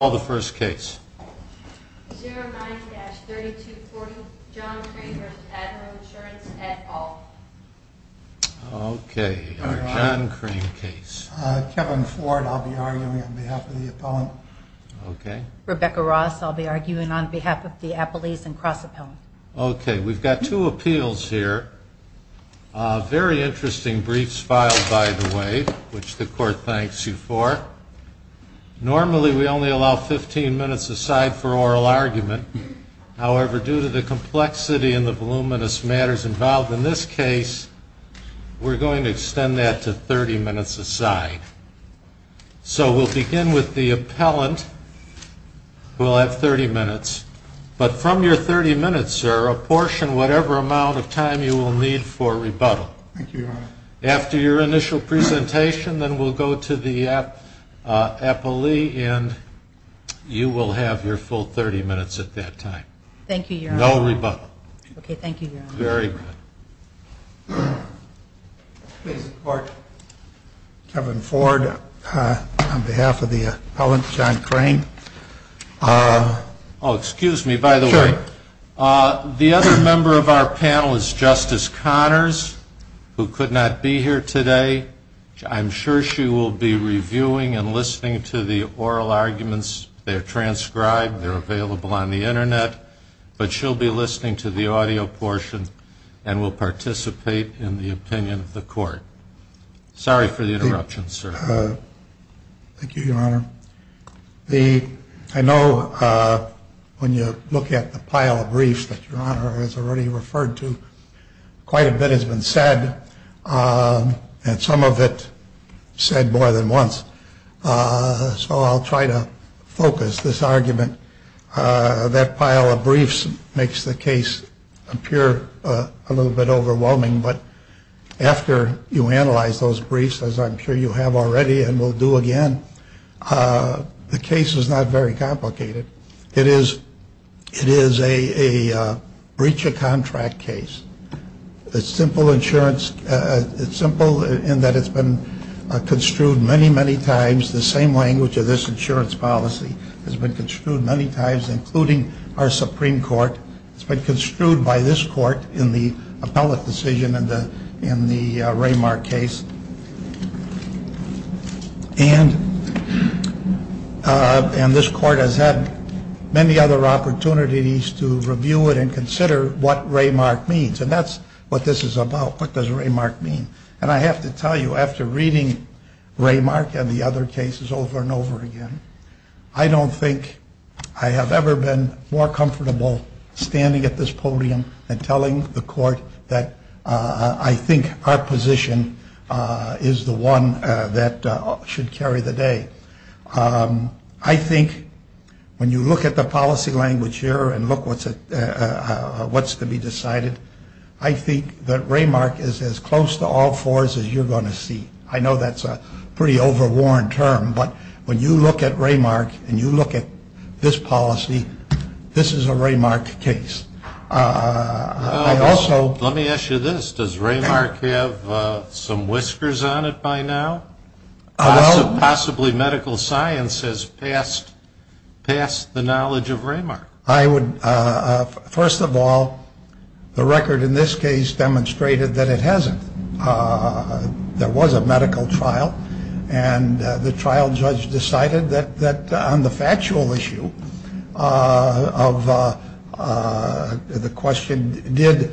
Call the first case. 09-3240 John Crane v. Admiral Insurance, et al. Okay, our John Crane case. Kevin Ford, I'll be arguing on behalf of the appellant. Okay. Rebecca Ross, I'll be arguing on behalf of the appellees and cross-appellant. Okay, we've got two appeals here. Very interesting briefs filed, by the way, which the court thanks you for. Normally, we only allow 15 minutes aside for oral argument. However, due to the complexity and the voluminous matters involved in this case, we're going to extend that to 30 minutes aside. So we'll begin with the appellant. We'll have 30 minutes. But from your 30 minutes, sir, apportion whatever amount of time you will need for rebuttal. Thank you, Your Honor. After your initial presentation, then we'll go to the appellee, and you will have your full 30 minutes at that time. Thank you, Your Honor. No rebuttal. Okay, thank you, Your Honor. Very good. Please support Kevin Ford on behalf of the appellant, John Crane. Oh, excuse me, by the way. Sure. The other member of our panel is Justice Connors, who could not be here today. I'm sure she will be reviewing and listening to the oral arguments. They're transcribed. They're available on the Internet. But she'll be listening to the audio portion and will participate in the opinion of the court. Sorry for the interruption, sir. Thank you, Your Honor. I know when you look at the pile of briefs that Your Honor has already referred to, quite a bit has been said, and some of it said more than once. So I'll try to focus this argument. That pile of briefs makes the case appear a little bit overwhelming. But after you analyze those briefs, as I'm sure you have already and will do again, the case is not very complicated. It is a breach of contract case. It's simple in that it's been construed many, many times. The same language of this insurance policy has been construed many times, including our Supreme Court. It's been construed by this court in the appellate decision in the Raymark case. And this court has had many other opportunities to review it and consider what Raymark means. And that's what this is about. What does Raymark mean? And I have to tell you, after reading Raymark and the other cases over and over again, I don't think I have ever been more comfortable standing at this podium and telling the court that I think our position is the one that should carry the day. I think when you look at the policy language here and look at what's to be decided, I think that Raymark is as close to all fours as you're going to see. I know that's a pretty overworn term, but when you look at Raymark and you look at this policy, this is a Raymark case. Let me ask you this. Does Raymark have some whiskers on it by now? Possibly medical science has passed the knowledge of Raymark. First of all, the record in this case demonstrated that it hasn't. There was a medical trial, and the trial judge decided that on the factual issue of the question, did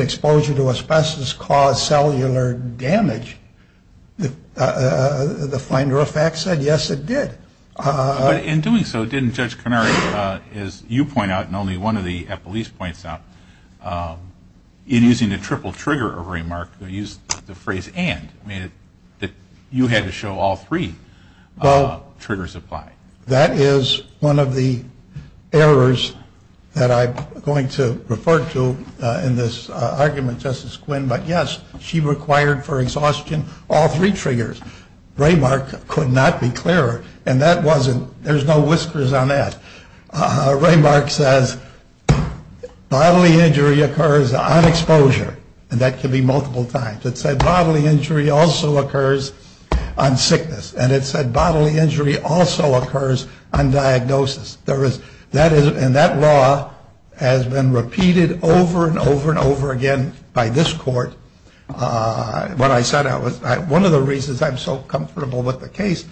exposure to asbestos cause cellular damage, the finder of fact said, yes, it did. But in doing so, didn't Judge Canary, as you point out and only one of the Eppolese points out, in using the triple trigger of Raymark, they used the phrase and. You had to show all three triggers apply. That is one of the errors that I'm going to refer to in this argument, Justice Quinn. But, yes, she required for exhaustion all three triggers. Raymark could not be clearer. And that wasn't. There's no whiskers on that. Raymark says bodily injury occurs on exposure. And that can be multiple times. It said bodily injury also occurs on sickness. And it said bodily injury also occurs on diagnosis. There is that. And that law has been repeated over and over and over again by this court. What I said, one of the reasons I'm so comfortable with the case,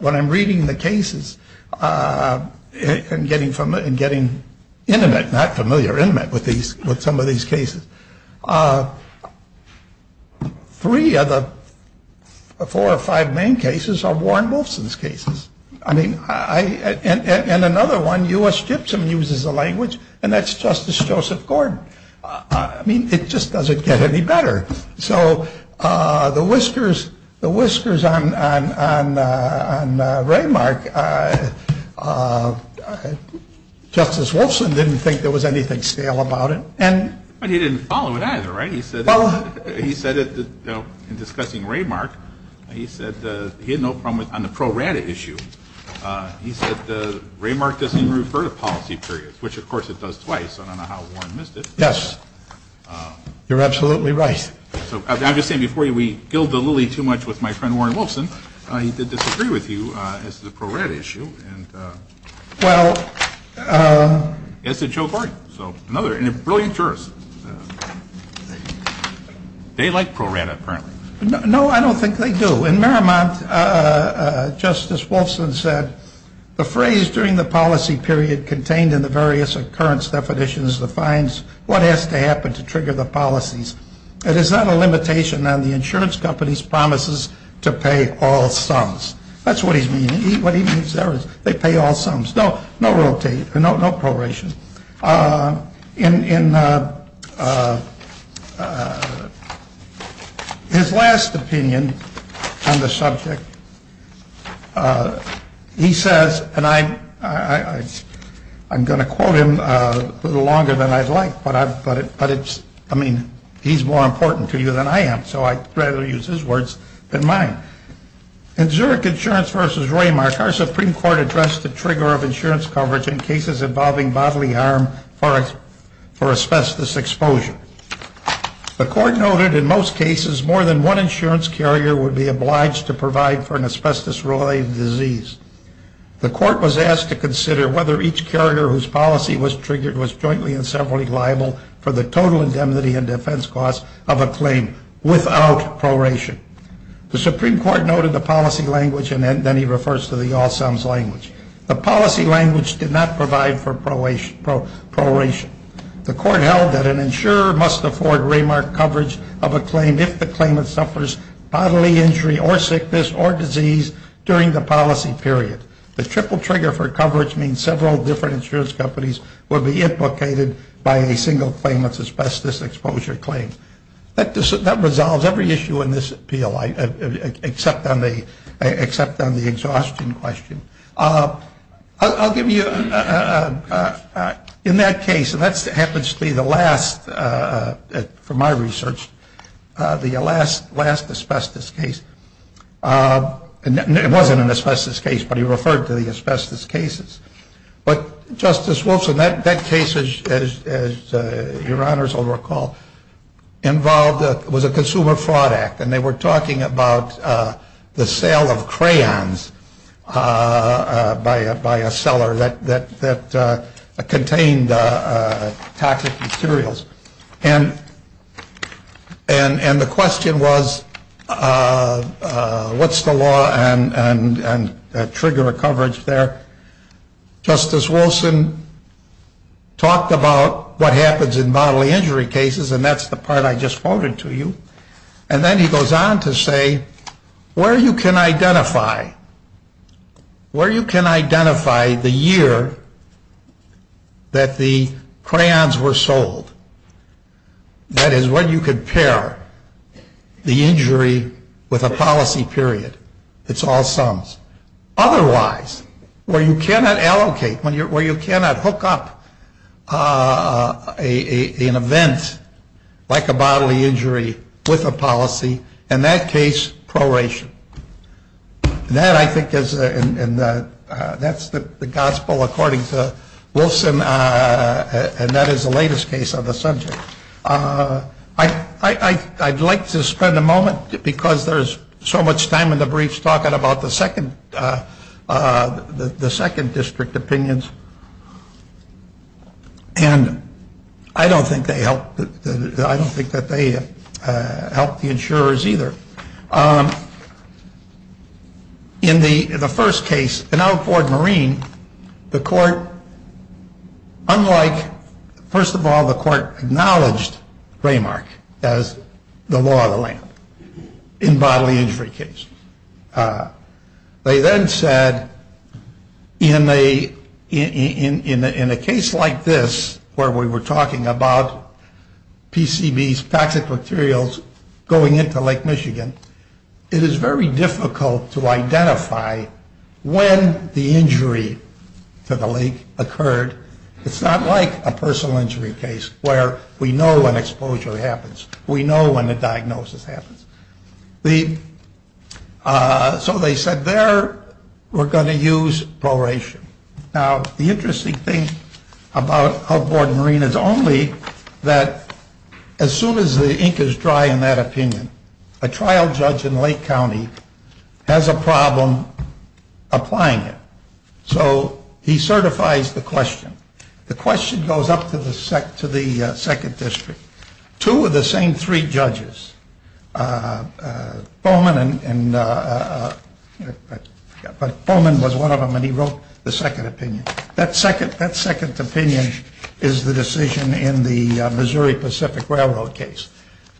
when I'm reading the cases and getting intimate, not familiar, intimate with some of these cases, three of the four or five main cases are Warren Wolfson's cases. I mean, and another one, U.S. Gypsum uses the language, and that's Justice Joseph Gordon. I mean, it just doesn't get any better. So the whiskers on Raymark, Justice Wolfson didn't think there was anything stale about it. But he didn't follow it either, right? He said in discussing Raymark, he said he had no problem on the pro rata issue. He said Raymark doesn't even refer to policy periods, which, of course, it does twice. I don't know how Warren missed it. Yes. You're absolutely right. So I'm just saying before we gild the lily too much with my friend Warren Wolfson, he did disagree with you as to the pro rata issue. Well. As did Joe Gordon. So another brilliant jurist. They like pro rata, apparently. No, I don't think they do. In Merrimont, Justice Wolfson said, the phrase during the policy period contained in the various occurrence definitions defines what has to happen to trigger the policies. It is not a limitation on the insurance company's promises to pay all sums. That's what he's meaning. What he means there is they pay all sums. No, no rotate. No proration. In his last opinion on the subject, he says, and I'm going to quote him a little longer than I'd like, but it's, I mean, he's more important to you than I am. So I'd rather use his words than mine. In Zurich Insurance versus Raymark, our Supreme Court addressed the trigger of insurance coverage in cases involving bodily harm for asbestos exposure. The court noted in most cases more than one insurance carrier would be obliged to provide for an asbestos-related disease. The court was asked to consider whether each carrier whose policy was triggered was jointly and separately liable for the total indemnity and defense costs of a claim without proration. The Supreme Court noted the policy language, and then he refers to the all sums language. The policy language did not provide for proration. The court held that an insurer must afford Raymark coverage of a claim if the claimant suffers bodily injury or sickness or disease during the policy period. The triple trigger for coverage means several different insurance companies will be implicated by a single claimant's asbestos exposure claim. That resolves every issue in this appeal, except on the exhaustion question. I'll give you, in that case, and that happens to be the last, from my research, the last asbestos case. It wasn't an asbestos case, but he referred to the asbestos cases. But, Justice Wolfson, that case, as your honors will recall, involved, was a consumer fraud act, and they were talking about the sale of crayons by a seller that contained toxic materials. And the question was, what's the law on trigger coverage there? Justice Wolfson talked about what happens in bodily injury cases, and that's the part I just quoted to you. And then he goes on to say, where you can identify, where you can identify the year that the crayons were sold. That is, when you compare the injury with a policy period, it's all sums. Otherwise, where you cannot allocate, where you cannot hook up an event like a bodily injury with a policy, in that case, proration. And that, I think, is, and that's the gospel according to Wolfson, and that is the latest case on the subject. I'd like to spend a moment, because there's so much time in the briefs, talking about the second district opinions. And I don't think they helped, I don't think that they helped the insurers either. In the first case, an outboard marine, the court, unlike, first of all, the court acknowledged Raymark as the law of the land in bodily injury cases. They then said, in a case like this, where we were talking about PCBs, toxic materials, going into Lake Michigan, it is very difficult to identify when the injury to the lake occurred. It's not like a personal injury case, where we know when exposure happens. We know when the diagnosis happens. So they said, there, we're going to use proration. Now, the interesting thing about outboard marine is only that as soon as the ink is dry in that opinion, a trial judge in Lake County has a problem applying it. So he certifies the question. The question goes up to the second district. Two of the same three judges, Bowman was one of them, and he wrote the second opinion. That second opinion is the decision in the Missouri Pacific Railroad case.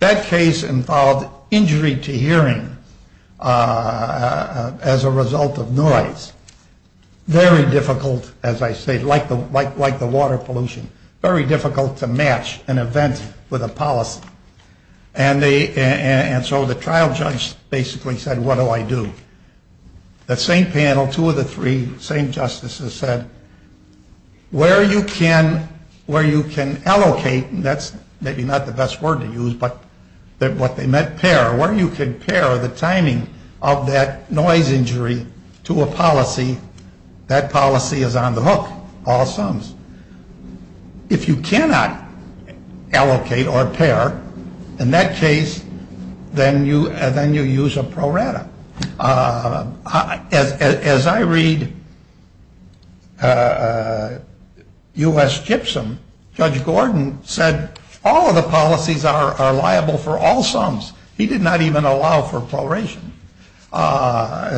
That case involved injury to hearing as a result of noise. Very difficult, as I say, like the water pollution. Very difficult to match an event with a policy. And so the trial judge basically said, what do I do? The same panel, two of the three same justices said, where you can allocate, and that's maybe not the best word to use, but what they meant, pair. Where you can pair the timing of that noise injury to a policy, that policy is on the hook, all sums. If you cannot allocate or pair in that case, then you use a prorata. As I read U.S. Gypsum, Judge Gordon said, all of the policies are liable for all sums. He did not even allow for proration.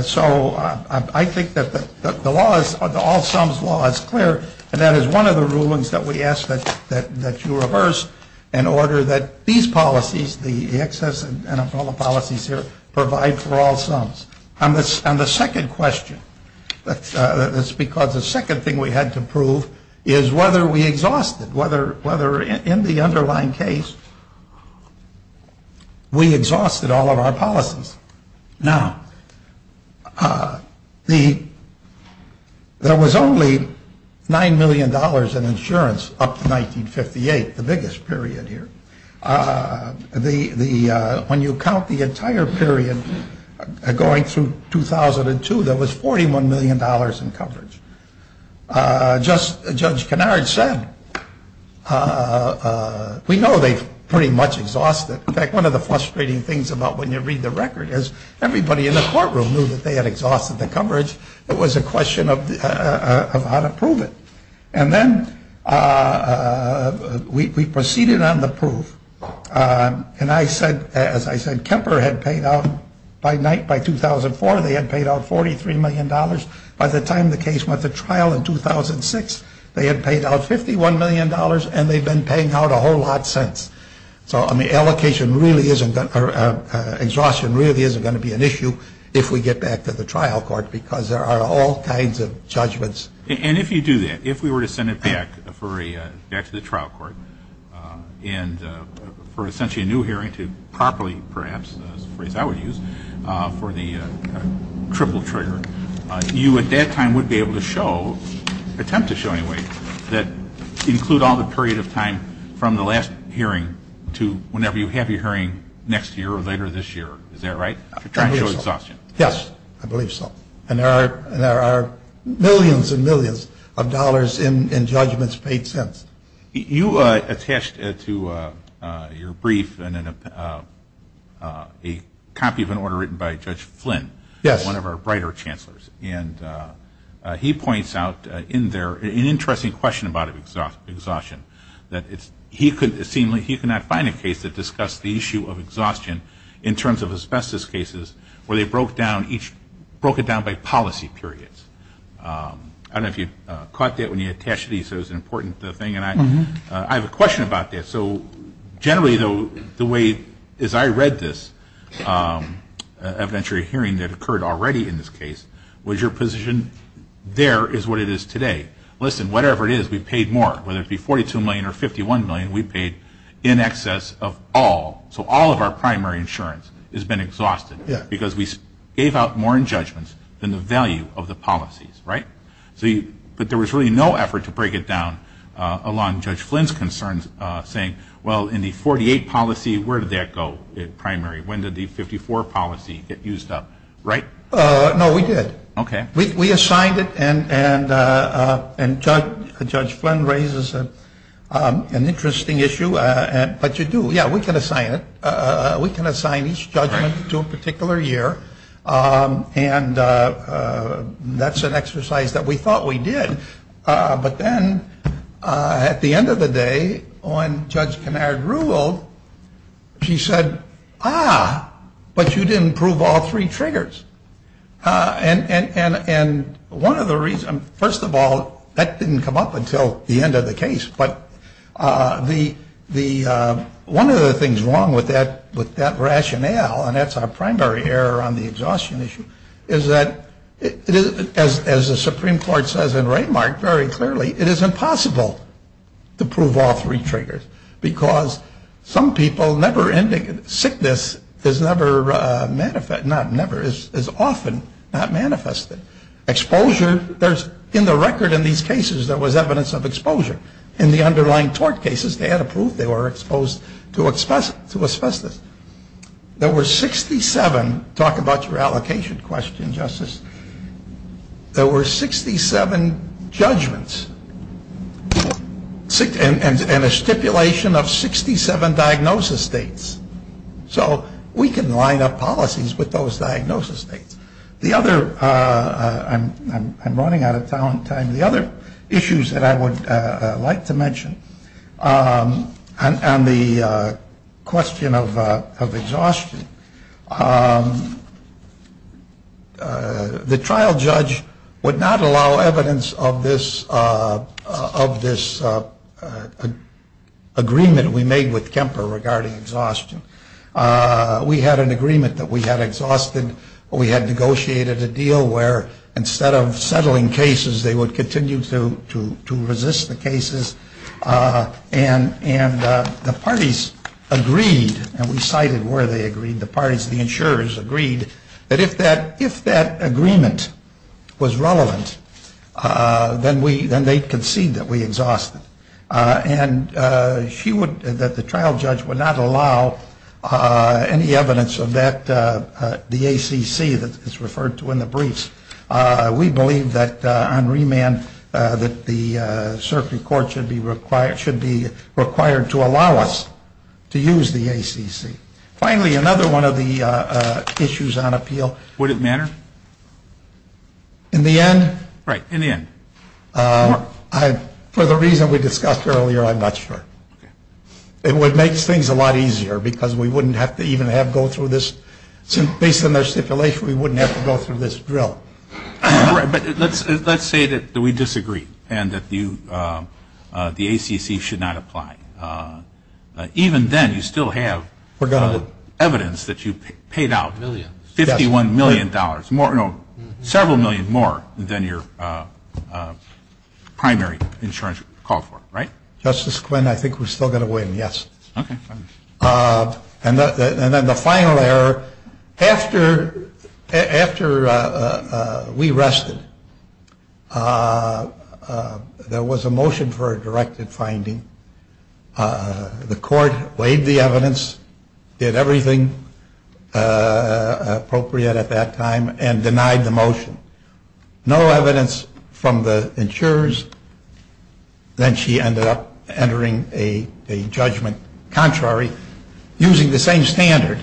So I think that the law is, the all sums law is clear, and that is one of the rulings that we ask that you reverse in order that these policies, the excess and umbrella policies here, provide for all sums. On the second question, that's because the second thing we had to prove is whether we exhausted, whether in the underlying case we exhausted all of our policies. Now, there was only $9 million in insurance up to 1958, the biggest period here. When you count the entire period going through 2002, there was $41 million in coverage. Just as Judge Kenard said, we know they pretty much exhausted. In fact, one of the frustrating things about when you read the record is everybody in the courtroom knew that they had exhausted the coverage. It was a question of how to prove it. And then we proceeded on the proof. And I said, as I said, Kemper had paid out by night, by 2004, they had paid out $43 million. By the time the case went to trial in 2006, they had paid out $51 million, and they've been paying out a whole lot since. So, I mean, allocation really isn't, exhaustion really isn't going to be an issue if we get back to the trial court, because there are all kinds of judgments. And if you do that, if we were to send it back for a, back to the trial court, and for essentially a new hearing to properly, perhaps, is the phrase I would use, for the triple trigger, you at that time would be able to show, attempt to show anyway, that include all the period of time from the last hearing to whenever you have your hearing next year or later this year. Is that right? To try and show exhaustion. Yes, I believe so. And there are millions and millions of dollars in judgments paid since. You attached to your brief a copy of an order written by Judge Flynn. Yes. One of our brighter chancellors. And he points out in there an interesting question about exhaustion, that he could not find a case that discussed the issue of exhaustion in terms of asbestos cases where they broke it down by policy periods. I don't know if you caught that when you attached these. It was an important thing. And I have a question about this. So generally, though, the way, as I read this evidentiary hearing that occurred already in this case, was your position there is what it is today. Listen, whatever it is, we paid more. Whether it be $42 million or $51 million, we paid in excess of all. So all of our primary insurance has been exhausted because we gave out more in judgments than the value of the policies. Right? But there was really no effort to break it down along Judge Flynn's concerns, saying, well, in the 48 policy, where did that go in primary? When did the 54 policy get used up? Right? No, we did. Okay. We assigned it. And Judge Flynn raises an interesting issue. But you do. Yeah, we can assign it. We can assign each judgment to a particular year. And that's an exercise that we thought we did. But then at the end of the day, when Judge Kinard ruled, she said, ah, but you didn't prove all three triggers. And one of the reasons, first of all, that didn't come up until the end of the case. But one of the things wrong with that rationale, and that's our primary error on the exhaustion issue, is that, as the Supreme Court says in Raymark very clearly, it is impossible to prove all three triggers. Because some people, sickness is often not manifested. Exposure, there's, in the record in these cases, there was evidence of exposure. In the underlying tort cases, they had to prove they were exposed to asbestos. There were 67, talk about your allocation question, Justice, there were 67 judgments. And a stipulation of 67 diagnosis states. So we can line up policies with those diagnosis states. The other, I'm running out of time, the other issues that I would like to mention on the question of exhaustion. The trial judge would not allow evidence of this agreement we made with Kemper regarding exhaustion. We had an agreement that we had exhausted. We had negotiated a deal where, instead of settling cases, they would continue to resist the cases. And the parties agreed, and we cited where they agreed, the parties, the insurers agreed, that if that agreement was relevant, then they'd concede that we exhausted it. And she would, that the trial judge would not allow any evidence of that, the ACC that's referred to in the briefs. We believe that on remand, that the circuit court should be required to allow us to use the ACC. Finally, another one of the issues on appeal. Would it matter? In the end? Right, in the end. For the reason we discussed earlier, I'm not sure. It would make things a lot easier because we wouldn't have to even have to go through this, based on their stipulation, we wouldn't have to go through this drill. Right, but let's say that we disagree and that the ACC should not apply. Even then, you still have evidence that you paid out $51 million, several million more than your primary insurance called for, right? Justice Quinn, I think we're still going to win, yes. Okay. And then the final error, after we rested, there was a motion for a directed finding. The court weighed the evidence, did everything appropriate at that time, and denied the motion. No evidence from the insurers. Then she ended up entering a judgment contrary, using the same standard,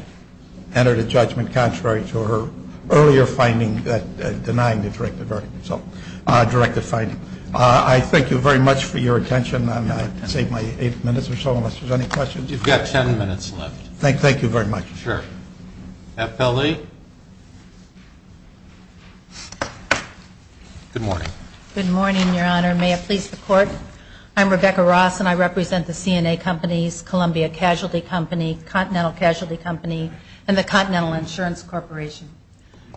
entered a judgment contrary to her earlier finding that denied the directed finding. So directed finding. I thank you very much for your attention. I saved my eight minutes or so, unless there's any questions. You've got ten minutes left. Thank you very much. Sure. FLE. Good morning. Good morning, Your Honor. May it please the Court. I'm Rebecca Ross, and I represent the CNA Companies, Columbia Casualty Company, Continental Casualty Company, and the Continental Insurance Corporation.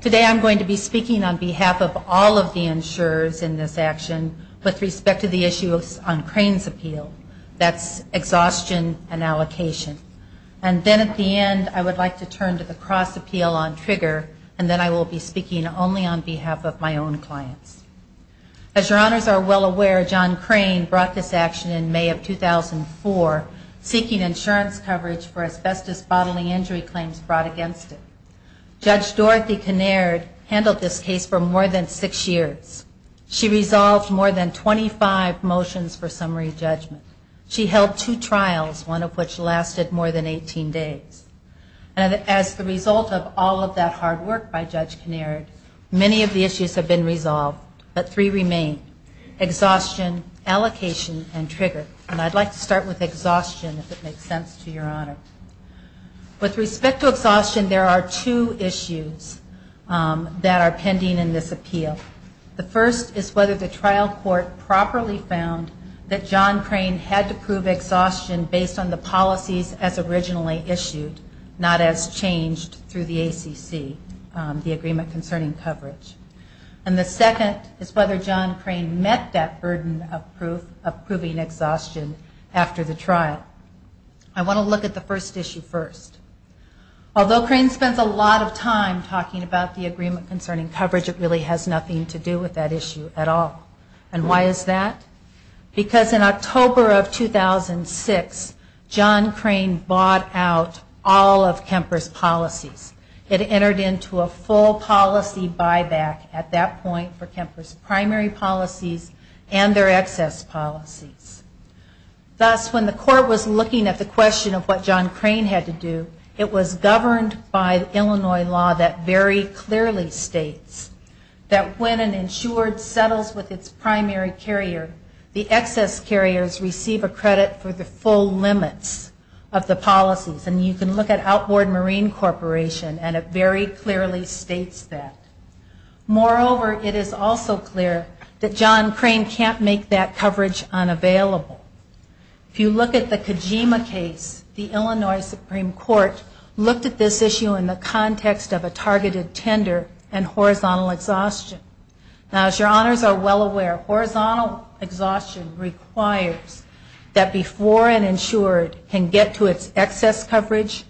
Today I'm going to be speaking on behalf of all of the insurers in this action, with respect to the issue on Crane's appeal. That's exhaustion and allocation. And then at the end, I would like to turn to the cross appeal on Trigger, and then I will be speaking only on behalf of my own clients. As Your Honors are well aware, John Crane brought this action in May of 2004, seeking insurance coverage for asbestos bodily injury claims brought against him. Judge Dorothy Kinnaird handled this case for more than six years. She resolved more than 25 motions for summary judgment. She held two trials, one of which lasted more than 18 days. And as a result of all of that hard work by Judge Kinnaird, many of the issues have been resolved, but three remain, exhaustion, allocation, and Trigger. And I'd like to start with exhaustion, if it makes sense to Your Honor. With respect to exhaustion, there are two issues that are pending in this appeal. The first is whether the trial court properly found that John Crane had to prove exhaustion based on the policies as originally issued, not as changed through the ACC, the Agreement Concerning Coverage. And the second is whether John Crane met that burden of proving exhaustion after the trial. I want to look at the first issue first. Although Crane spends a lot of time talking about the Agreement Concerning Coverage, it really has nothing to do with that issue at all. And why is that? Because in October of 2006, John Crane bought out all of Kemper's policies. It entered into a full policy buyback at that point for Kemper's primary policies and their excess policies. Thus, when the court was looking at the question of what John Crane had to do, it was governed by Illinois law that very clearly states that when an insured settles with its primary carrier, the excess carriers receive a credit for the full limits of the policies. And you can look at Outboard Marine Corporation, and it very clearly states that. Moreover, it is also clear that John Crane can't make that coverage unavailable. If you look at the Kojima case, the Illinois Supreme Court looked at this issue in the context of a targeted tender and horizontal exhaustion. Now, as your honors are well aware, horizontal exhaustion requires that before an insured can get to its excess coverage,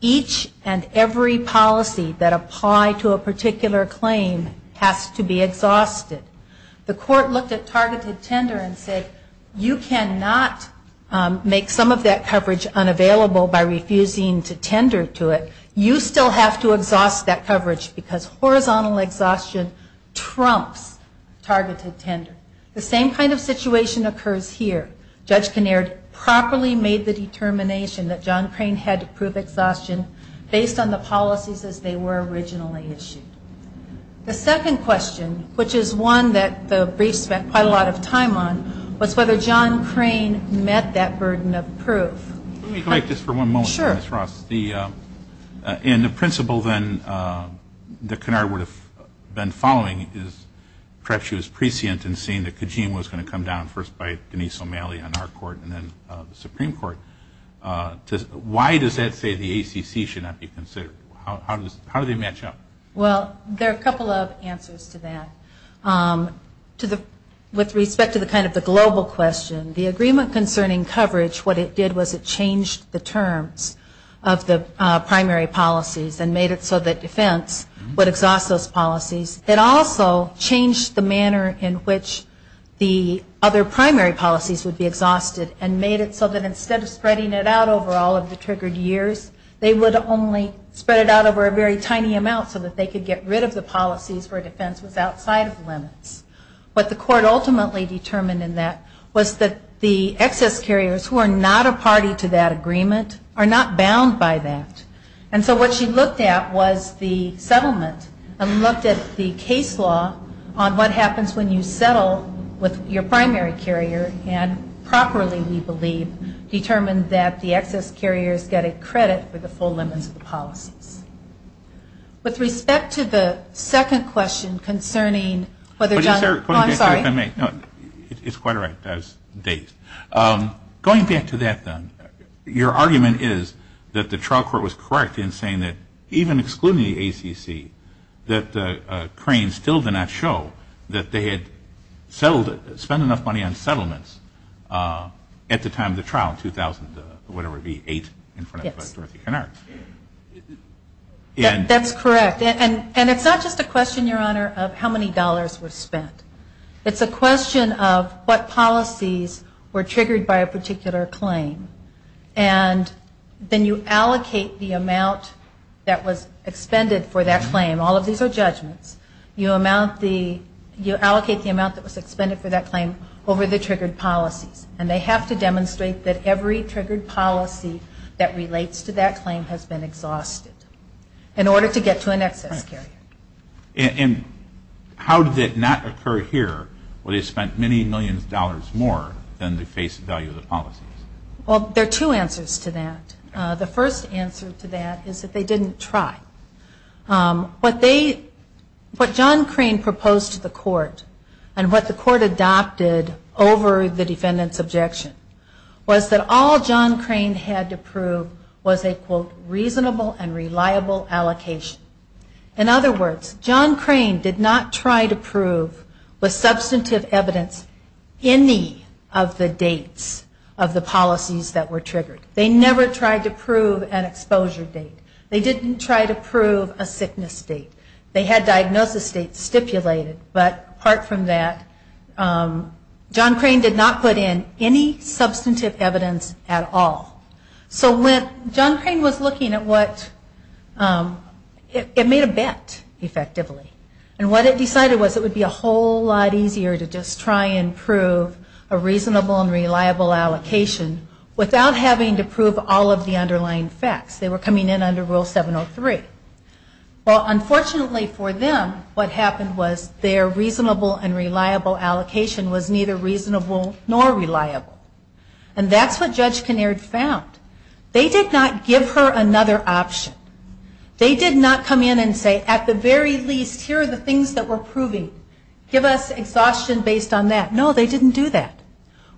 each and every policy that apply to a particular claim has to be exhausted. The court looked at targeted tender and said, you cannot make some of that coverage unavailable by refusing to tender to it. You still have to exhaust that coverage because horizontal exhaustion trumps targeted tender. The same kind of situation occurs here. Judge Kinnaird properly made the determination that John Crane had to prove exhaustion based on the policies as they were originally issued. The second question, which is one that the brief spent quite a lot of time on, was whether John Crane met that burden of proof. Let me correct this for one moment, Ms. Ross. Sure. And the principle then that Kinnaird would have been following is perhaps she was prescient in seeing that Kajim was going to come down first by Denise O'Malley on our court and then the Supreme Court. Why does that say the ACC should not be considered? How do they match up? Well, there are a couple of answers to that. With respect to kind of the global question, the agreement concerning coverage, what it did was it changed the terms of the primary policies and made it so that defense would exhaust those policies. It also changed the manner in which the other primary policies would be exhausted and made it so that instead of spreading it out over all of the triggered years, they would only spread it out over a very tiny amount so that they could get rid of the policies where defense was outside of limits. What the court ultimately determined in that was that the excess carriers who are not a party to that agreement are not bound by that. And so what she looked at was the settlement and looked at the case law on what happens when you settle with your primary carrier and properly we believe determined that the excess carriers get a credit for the full limits of the policies. With respect to the second question concerning whether John... Oh, I'm sorry. It's quite all right. I was dazed. Going back to that then, your argument is that the trial court was correct in saying that even excluding the ACC, that Crane still did not show that they had spent enough money on settlements at the time of the trial, 2008 in front of Dorothy Kennard. That's correct. And it's not just a question, Your Honor, of how many dollars were spent. It's a question of what policies were triggered by a particular claim. And then you allocate the amount that was expended for that claim. All of these are judgments. You allocate the amount that was expended for that claim over the triggered policies. And they have to demonstrate that every triggered policy that relates to that claim has been exhausted in order to get to an excess carrier. And how did it not occur here where they spent many millions of dollars more than the face value of the policies? Well, there are two answers to that. The first answer to that is that they didn't try. What John Crane proposed to the court and what the court adopted over the defendant's objection was that all John Crane had to prove was a, quote, reasonable and reliable allocation. In other words, John Crane did not try to prove with substantive evidence any of the dates of the policies that were triggered. They never tried to prove an exposure date. They didn't try to prove a sickness date. They had diagnosis dates stipulated. But apart from that, John Crane did not put in any substantive evidence at all. So when John Crane was looking at what, it made a bet effectively. And what it decided was it would be a whole lot easier to just try and prove a reasonable and reliable allocation without having to prove all of the underlying facts. They were coming in under Rule 703. Well, unfortunately for them, what happened was their reasonable and reliable allocation was neither reasonable nor reliable. And that's what Judge Kinnaird found. They did not give her another option. They did not come in and say, at the very least, here are the things that we're proving. Give us exhaustion based on that. No, they didn't do that.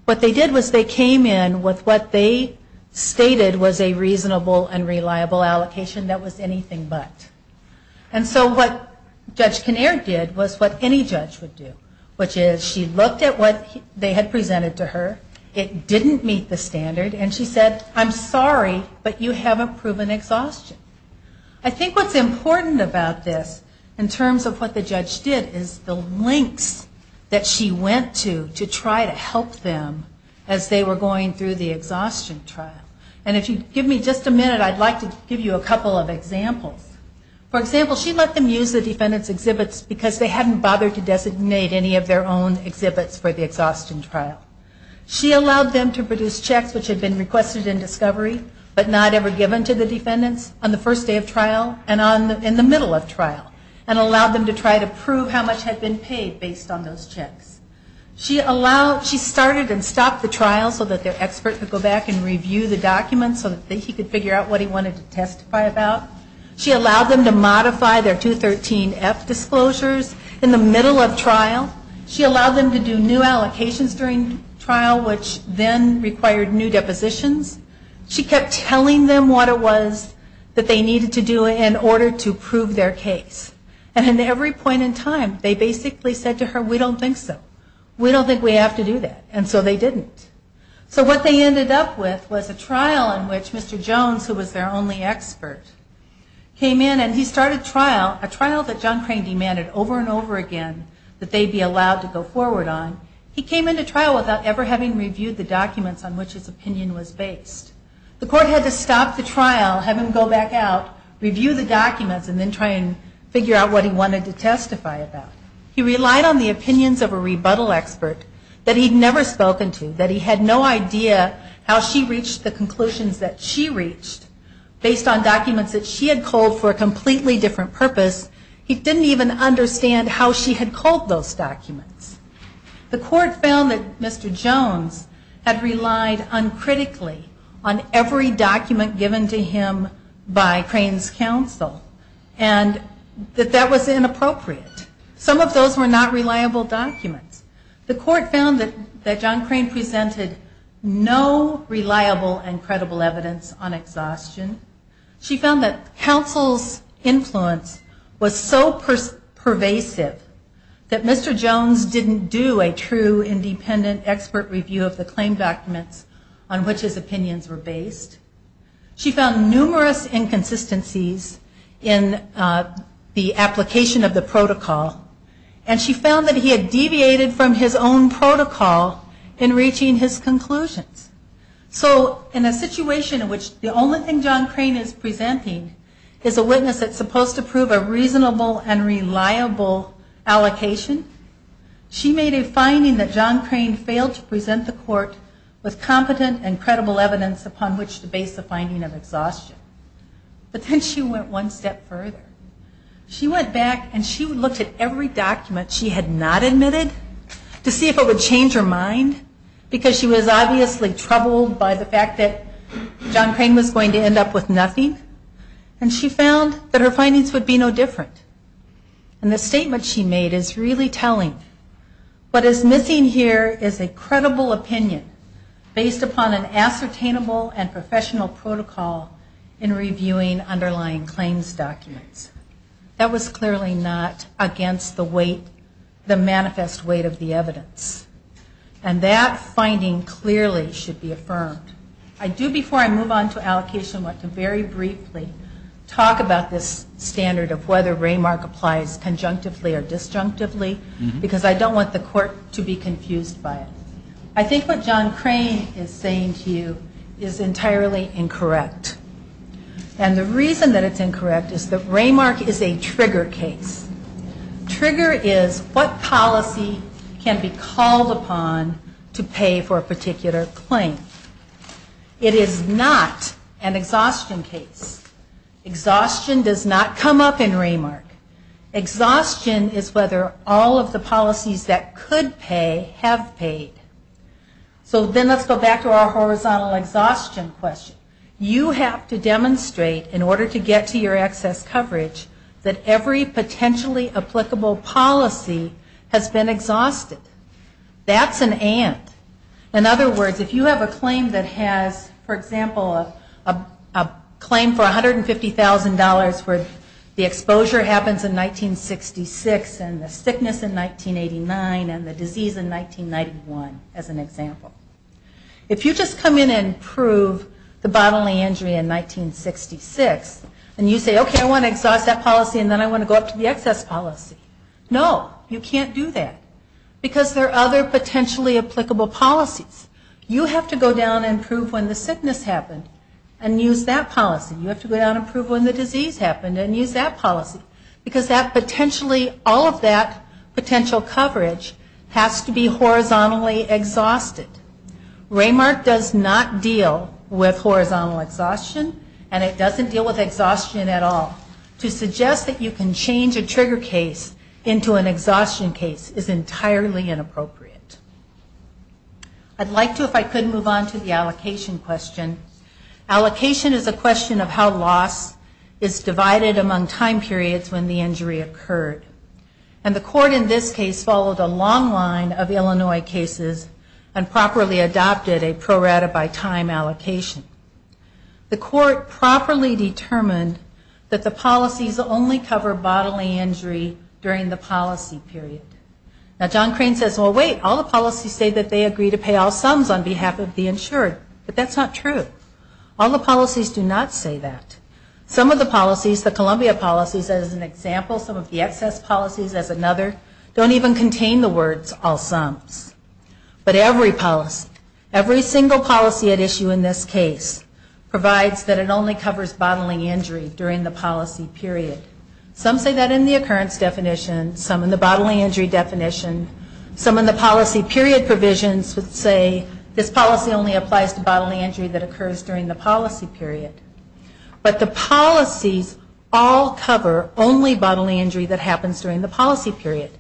What they did was they came in with what they stated was a reasonable and reliable allocation that was anything but. And so what Judge Kinnaird did was what any judge would do, which is she looked at what they had presented to her. It didn't meet the standard. And she said, I'm sorry, but you haven't proven exhaustion. I think what's important about this in terms of what the judge did is the lengths that she went to to try to help them as they were going through the exhaustion trial. And if you give me just a minute, I'd like to give you a couple of examples. For example, she let them use the defendant's exhibits because they hadn't bothered to designate any of their own exhibits for the exhaustion trial. She allowed them to produce checks which had been requested in discovery but not ever given to the defendants on the first day of trial and in the middle of trial and allowed them to try to prove how much had been paid based on those checks. She started and stopped the trial so that their expert could go back and review the documents so that he could figure out what he wanted to testify about. She allowed them to modify their 213F disclosures in the middle of trial. She allowed them to do new allocations during trial which then required new depositions. She kept telling them what it was that they needed to do in order to prove their case. And at every point in time, they basically said to her, we don't think so. We don't think we have to do that. And so they didn't. So what they ended up with was a trial in which Mr. Jones, who was their only expert, came in and he started a trial that John Crane demanded over and over again that they be allowed to go forward on. He came into trial without ever having reviewed the documents on which his opinion was based. The court had to stop the trial, have him go back out, review the documents, and then try and figure out what he wanted to testify about. He relied on the opinions of a rebuttal expert that he'd never spoken to, that he had no idea how she reached the conclusions that she reached based on documents that she had culled for a completely different purpose. He didn't even understand how she had culled those documents. The court found that Mr. Jones had relied uncritically on every document given to him by Crane's counsel and that that was inappropriate. Some of those were not reliable documents. The court found that John Crane presented no reliable and credible evidence on exhaustion. She found that counsel's influence was so pervasive that Mr. Jones didn't do a true independent expert review of the claim documents on which his opinions were based. She found numerous inconsistencies in the application of the protocol and she found that he had deviated from his own protocol in reaching his conclusions. So in a situation in which the only thing John Crane is presenting is a witness that's supposed to prove a reasonable and reliable allocation, she made a finding that John Crane failed to present the court with competent and credible evidence upon which to base the finding of exhaustion. But then she went one step further. She went back and she looked at every document she had not admitted to see if it would change her mind because she was obviously troubled by the fact that John Crane was going to end up with nothing and she found that her findings would be no different. And the statement she made is really telling. What is missing here is a credible opinion based upon an ascertainable and professional protocol in reviewing underlying claims documents. That was clearly not against the weight, the manifest weight of the evidence. And that finding clearly should be affirmed. I do before I move on to allocation want to very briefly talk about this standard of whether Raymark applies conjunctively or disjunctively because I don't want the court to be confused by it. I think what John Crane is saying to you is entirely incorrect. And the reason that it's incorrect is that Raymark is a trigger case. Trigger is what policy can be called upon to pay for a particular claim. It is not an exhaustion case. Exhaustion does not come up in Raymark. Exhaustion is whether all of the policies that could pay have paid. So then let's go back to our horizontal exhaustion question. You have to demonstrate in order to get to your excess coverage that every potentially applicable policy has been exhausted. That's an and. In other words, if you have a claim that has, for example, a claim for $150,000 where the exposure happens in 1966 and the sickness in 1989 and the disease in 1991 as an example. If you just come in and prove the bodily injury in 1966, and you say, okay, I want to exhaust that policy and then I want to go up to the excess policy. No, you can't do that. Because there are other potentially applicable policies. You have to go down and prove when the sickness happened and use that policy. You have to go down and prove when the disease happened and use that policy. Because all of that potential coverage has to be horizontally exhausted. Raymark does not deal with horizontal exhaustion, and it doesn't deal with exhaustion at all. To suggest that you can change a trigger case into an exhaustion case is entirely inappropriate. I'd like to, if I could, move on to the allocation question. Allocation is a question of how loss is divided among time periods when the injury occurred. And the court in this case followed a long line of Illinois cases and properly adopted a pro rata by time allocation. The court properly determined that the policies only cover bodily injury during the policy period. Now John Crane says, well, wait, all the policies say that they agree to pay all sums on behalf of the insured. But that's not true. All the policies do not say that. Some of the policies, the Columbia policies as an example, some of the excess policies as another, don't even contain the words all sums. But every policy, every single policy at issue in this case provides that it only covers bodily injury during the policy period. Some say that in the occurrence definition, some in the bodily injury definition, some in the policy period provisions would say this policy only applies to bodily injury that occurs during the policy period. But the policies all cover only bodily injury that happens during the policy period.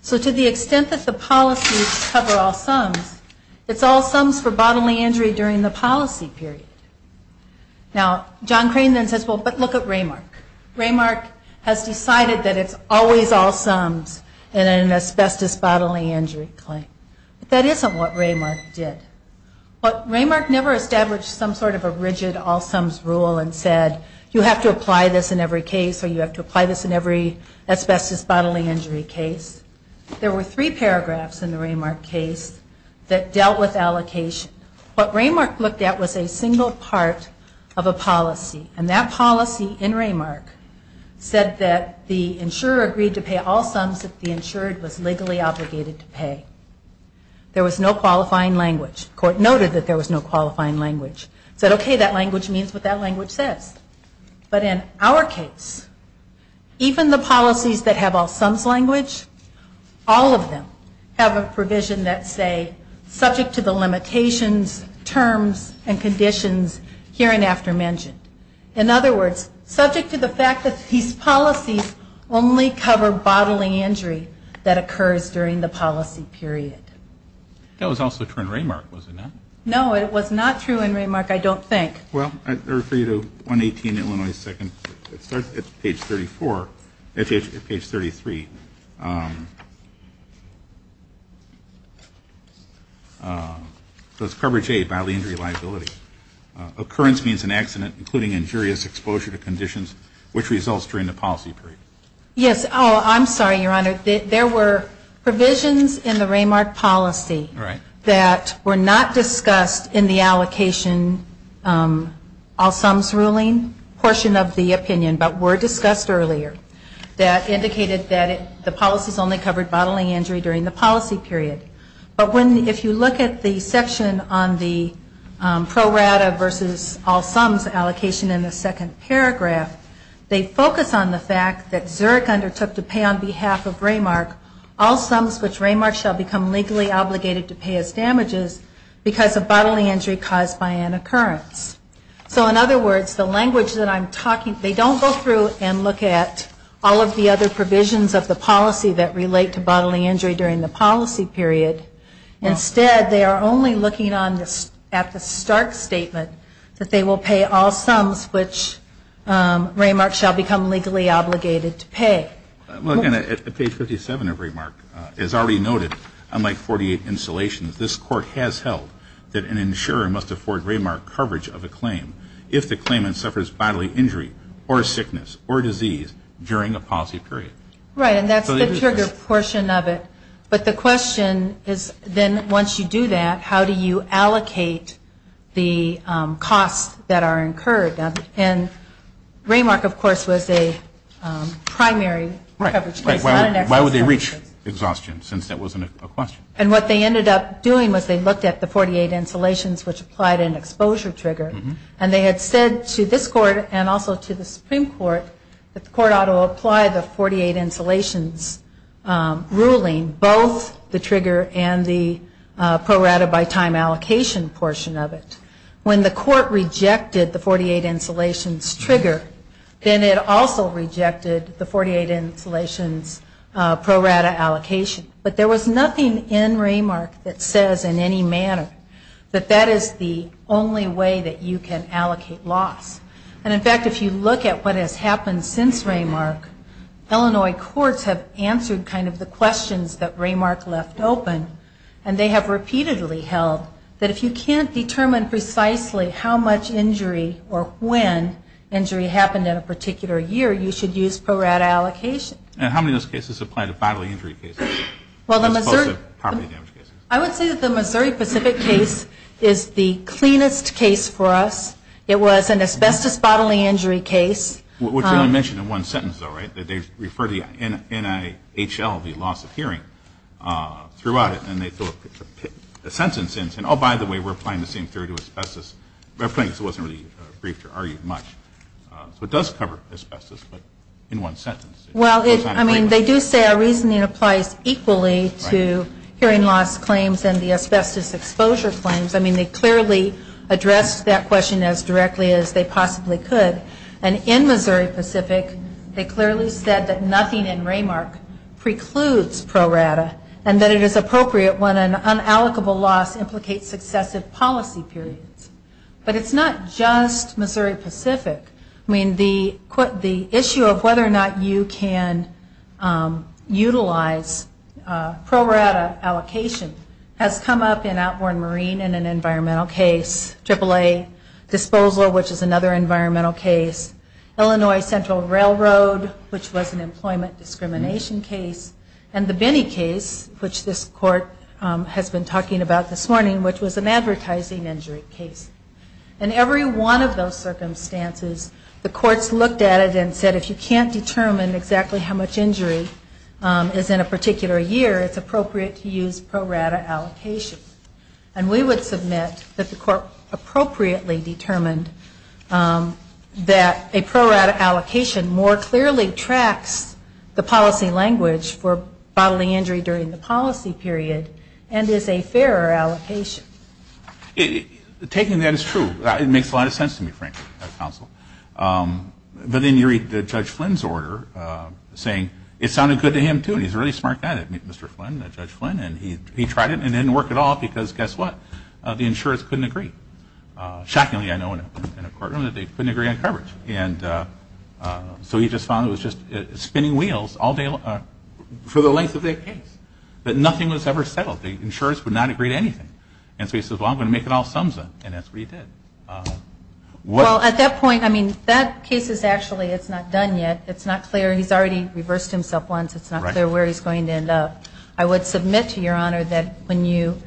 So to the extent that the policies cover all sums, it's all sums for bodily injury during the policy period. Now John Crane then says, well, but look at Raymark. Raymark has decided that it's always all sums in an asbestos bodily injury claim. But that isn't what Raymark did. Raymark never established some sort of a rigid all sums rule and said you have to apply this in every case or you have to apply this in every asbestos bodily injury case. There were three paragraphs in the Raymark case that dealt with allocation. What Raymark looked at was a single part of a policy. And that policy in Raymark said that the insurer agreed to pay all sums that the insured was legally obligated to pay. There was no qualifying language. The court noted that there was no qualifying language. It said, okay, that language means what that language says. But in our case, even the policies that have all sums language, all of them have a provision that say, subject to the limitations, terms, and conditions hereinafter mentioned. In other words, subject to the fact that these policies only cover bodily injury that occurs during the policy period. That was also true in Raymark, was it not? No, it was not true in Raymark, I don't think. Well, I refer you to 118 Illinois 2nd. It starts at page 34. Actually, it's page 33. So it's coverage A, bodily injury liability. Occurrence means an accident, including injurious exposure to conditions, which results during the policy period. Yes. Oh, I'm sorry, Your Honor. There were provisions in the Raymark policy that were not discussed in the allocation, all sums ruling portion of the opinion, but were discussed earlier, that indicated that the policies only covered bodily injury during the policy period. But if you look at the section on the pro rata versus all sums allocation in the second paragraph, they focus on the fact that Zurich undertook to pay on behalf of Raymark all sums which Raymark shall become legally obligated to pay as damages because of bodily injury caused by an occurrence. So in other words, the language that I'm talking, they don't go through and look at all of the other provisions of the policy that relate to bodily injury during the policy period. Instead, they are only looking at the stark statement that they will pay all sums. At page 57 of Raymark, it's already noted, unlike 48 installations, this court has held that an insurer must afford Raymark coverage of a claim if the claimant suffers bodily injury or sickness or disease during a policy period. Right. And that's the trigger portion of it. But the question is then once you do that, how do you allocate the costs that you have to cover? Right. Why would they reach exhaustion since that wasn't a question? And what they ended up doing was they looked at the 48 installations which applied an exposure trigger. And they had said to this court and also to the Supreme Court that the court ought to apply the 48 installations ruling, both the trigger and the pro rata by time allocation portion of it. When the court rejected the 48 installations trigger, then it also rejected the 48 installations pro rata allocation. But there was nothing in Raymark that says in any manner that that is the only way that you can allocate loss. And in fact, if you look at what has happened since Raymark, Illinois courts have answered kind of the questions that Raymark left open. And they have repeatedly held that if you can't determine precisely how much injury or when injury happened in a particular year, you should use pro rata allocation. And how many of those cases apply to bodily injury cases as opposed to property damage cases? I would say that the Missouri Pacific case is the cleanest case for us. It was an asbestos bodily injury case. Which I only mentioned in one sentence though, right, that they refer to the NIHL, the loss of hearing, throughout it. And they put a sentence in, oh, by the way, we're applying the same theory to asbestos. It wasn't really briefed or argued much. So it does cover asbestos, but in one sentence. Well, I mean, they do say our reasoning applies equally to hearing loss claims and the asbestos exposure claims. I mean, they clearly addressed that question as directly as they possibly could. And in Missouri Pacific, they clearly said that nothing in RAMARC precludes pro rata. And that it is appropriate when an unallocable loss implicates successive policy periods. But it's not just Missouri Pacific. I mean, the issue of whether or not you can utilize pro rata allocation has come up in Outborn Marine in an environmental case. Triple A disposal, which is another environmental case. Illinois Central Railroad, which was an employment discrimination case. And the Binney case, which this court has been talking about this morning, which was an advertising injury case. In every one of those circumstances, the courts looked at it and said, if you can't determine exactly how much injury is in a particular year, it's appropriate to use pro rata allocation. And we would submit that the court appropriately determined that the pro rata allocation more clearly tracks the policy language for bodily injury during the policy period and is a fairer allocation. Taking that is true. It makes a lot of sense to me, frankly, as counsel. But then you read Judge Flynn's order saying it sounded good to him, too. And he's a really smart guy to meet Mr. Flynn, Judge Flynn. And he tried it and it didn't work at all because, guess what? The insurers couldn't agree. Shockingly, I know in a courtroom that they couldn't agree on coverage. And so he just found it was just spinning wheels for the length of the case. That nothing was ever settled. The insurers would not agree to anything. And so he says, well, I'm going to make it all sums up. And that's what he did. Well, at that point, I mean, that case is actually, it's not done yet. It's not clear. He's already reversed himself once. It's not clear where he's going to end up. I would submit to Your Honor that when you,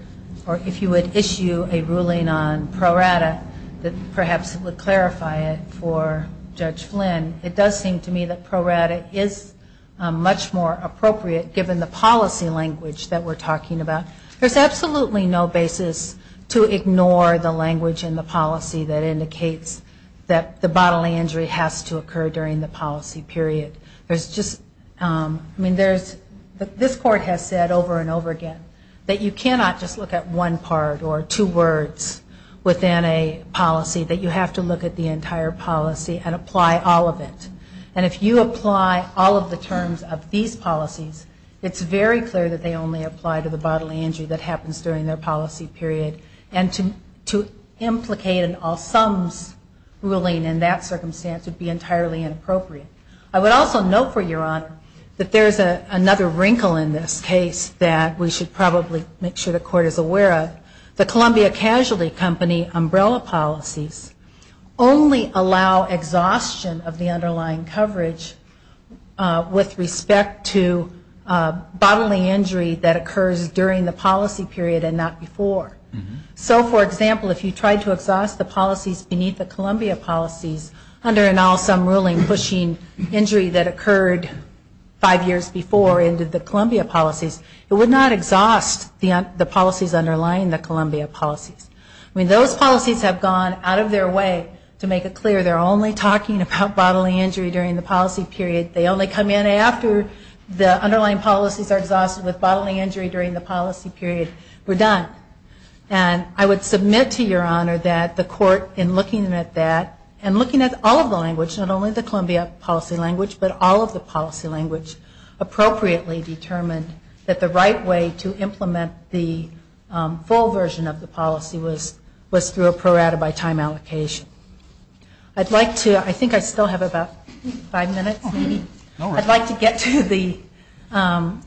or if you would issue a ruling on pro rata, that perhaps it would clarify it for Judge Flynn. It does seem to me that pro rata is much more appropriate given the policy language that we're talking about. There's absolutely no basis to ignore the language in the policy that indicates that the bodily injury has to occur during the policy period. There's just, I mean, there's, this court has said over and over again that you cannot just look at one part or two words within a policy. That you have to look at the entire policy and apply all of it. And if you apply all of the terms of these policies, it's very clear that they only apply to the bodily injury that happens during their policy period. And to implicate an all sums ruling in that circumstance would be entirely inappropriate. I would also note for Your Honor that there's another wrinkle in this case that we should probably make sure the court is aware of. The Columbia Casualty Company umbrella policies only allow exhaustion of the underlying coverage with respect to bodily injury that occurs during the policy period and not before. So, for example, if you tried to exhaust the policies beneath the underlying injury that occurred five years before into the Columbia policies, it would not exhaust the policies underlying the Columbia policies. I mean, those policies have gone out of their way to make it clear they're only talking about bodily injury during the policy period. They only come in after the underlying policies are exhausted with bodily injury during the policy period. We're done. And I would submit to Your Honor that the court in looking at that and looking at all of the language, not only the Columbia policy language, but all of the policy language appropriately determined that the right way to implement the full version of the policy was through a pro rata by time allocation. I'd like to, I think I still have about five minutes. I'd like to get to the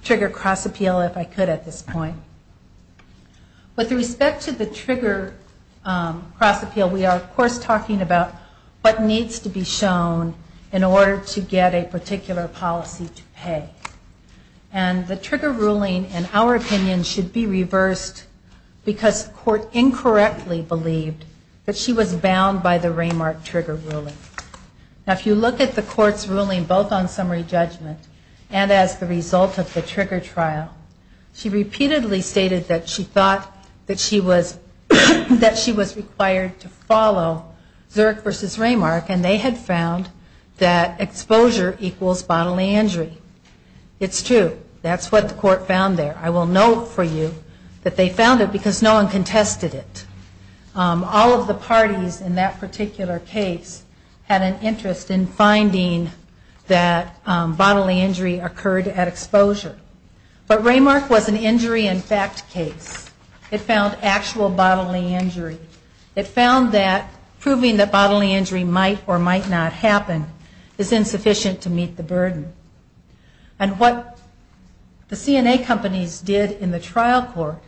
trigger cross appeal if I could at this point. With respect to the trigger cross appeal, we are, of course, talking about what needs to be shown in order to get a particular policy to pay. And the trigger ruling, in our opinion, should be reversed because the court incorrectly believed that she was bound by the Raymark trigger ruling. Now, if you look at the court's ruling both on summary judgment and as the result of the trigger trial, she repeatedly stated that she thought that she was, that she was required to follow Zerk v. result of the trigger trial, she repeatedly stated that she thought that she was required to follow Zerk v. Raymark and they had found that exposure equals bodily injury. It's true. That's what the court found there. I will note for you that they found it because no one contested it. All of the parties in that particular case had an interest in finding that bodily injury occurred at exposure. But Raymark was an injury in fact case. It found actual bodily injury. It found that proving that bodily injury might or might not happen is insufficient to meet the burden. And what the CNA companies did in the trial court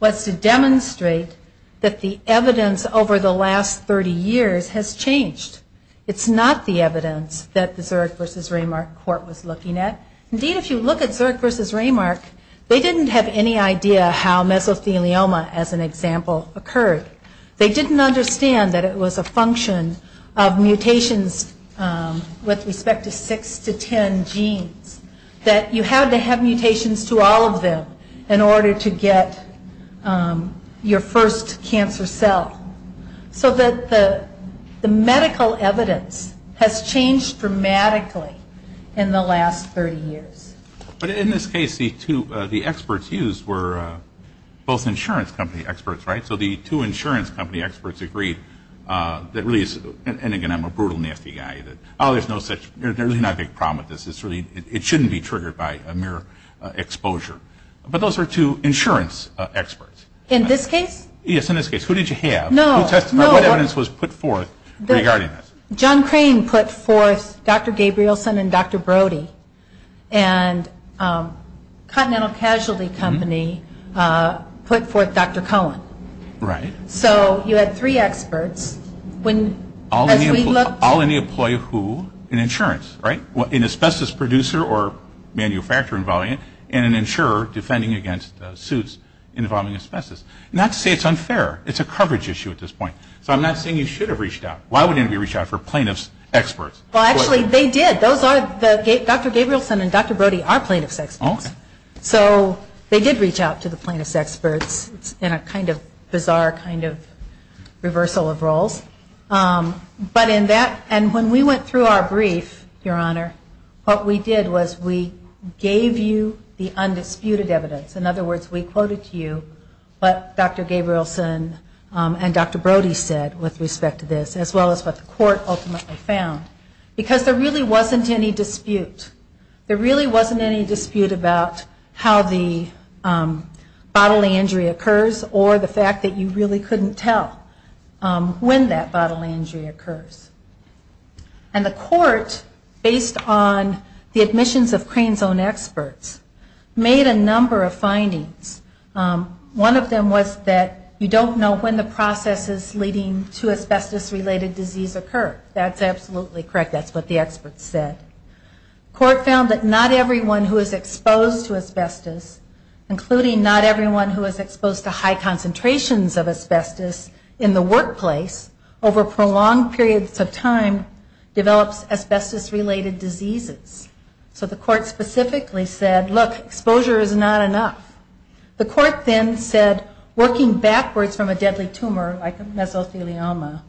was to demonstrate that the evidence over the last 30 years has changed. It's not the evidence that the Zerk v. Raymark court was looking at. Indeed, if you look at Zerk v. Raymark, they didn't have any idea how mesothelioma, as an example, occurred. They didn't understand that it was a function of mutations with respect to 6 to 10 genes. That you had to have mutations to all of them in order to get your first cancer cell. So that the medical evidence has changed dramatically in the last 30 years. But in this case, the experts used were both insurance company experts, right? So the two insurance company experts agreed that really, and again, I'm a brutal, nasty guy. Oh, there's no such, there's really not a big problem with this. It shouldn't be triggered by a mere exposure. But those are two insurance experts. In this case? Yes, in this case. Who did you have? No. I will testify what evidence was put forth regarding this. John Crane put forth Dr. Gabrielson and Dr. Brody. And Continental Casualty Company put forth Dr. Cohen. Right. So you had three experts. All in the employee who? In insurance, right? An asbestos producer or manufacturer involving it. And an insurer defending against suits involving asbestos. Not to say it's unfair. It's a coverage issue at this point. So I'm not saying you should have reached out. Why wouldn't you reach out for plaintiff's experts? Well, actually, they did. Dr. Gabrielson and Dr. Brody are plaintiff's experts. So they did reach out to the plaintiff's experts in a kind of bizarre kind of reversal of roles. But in that, and when we went through our brief, Your Honor, what we did was we gave you the undisputed evidence. In other words, we quoted to you what Dr. Gabrielson and Dr. Brody said with respect to this, as well as what the court ultimately found. Because there really wasn't any dispute. There really wasn't any dispute about how the bodily injury occurs or the fact that you really couldn't tell when that bodily injury occurs. And the court, based on the admissions of Crane Zone experts, made a number of findings. One of them was that you don't know when the processes leading to asbestos-related disease occur. That's absolutely correct. That's what the experts said. Court found that not everyone who is exposed to asbestos, including not everyone who is exposed to high concentrations of asbestos in the course of time, develops asbestos-related diseases. So the court specifically said, look, exposure is not enough. The court then said, working backwards from a deadly tumor like mesothelioma,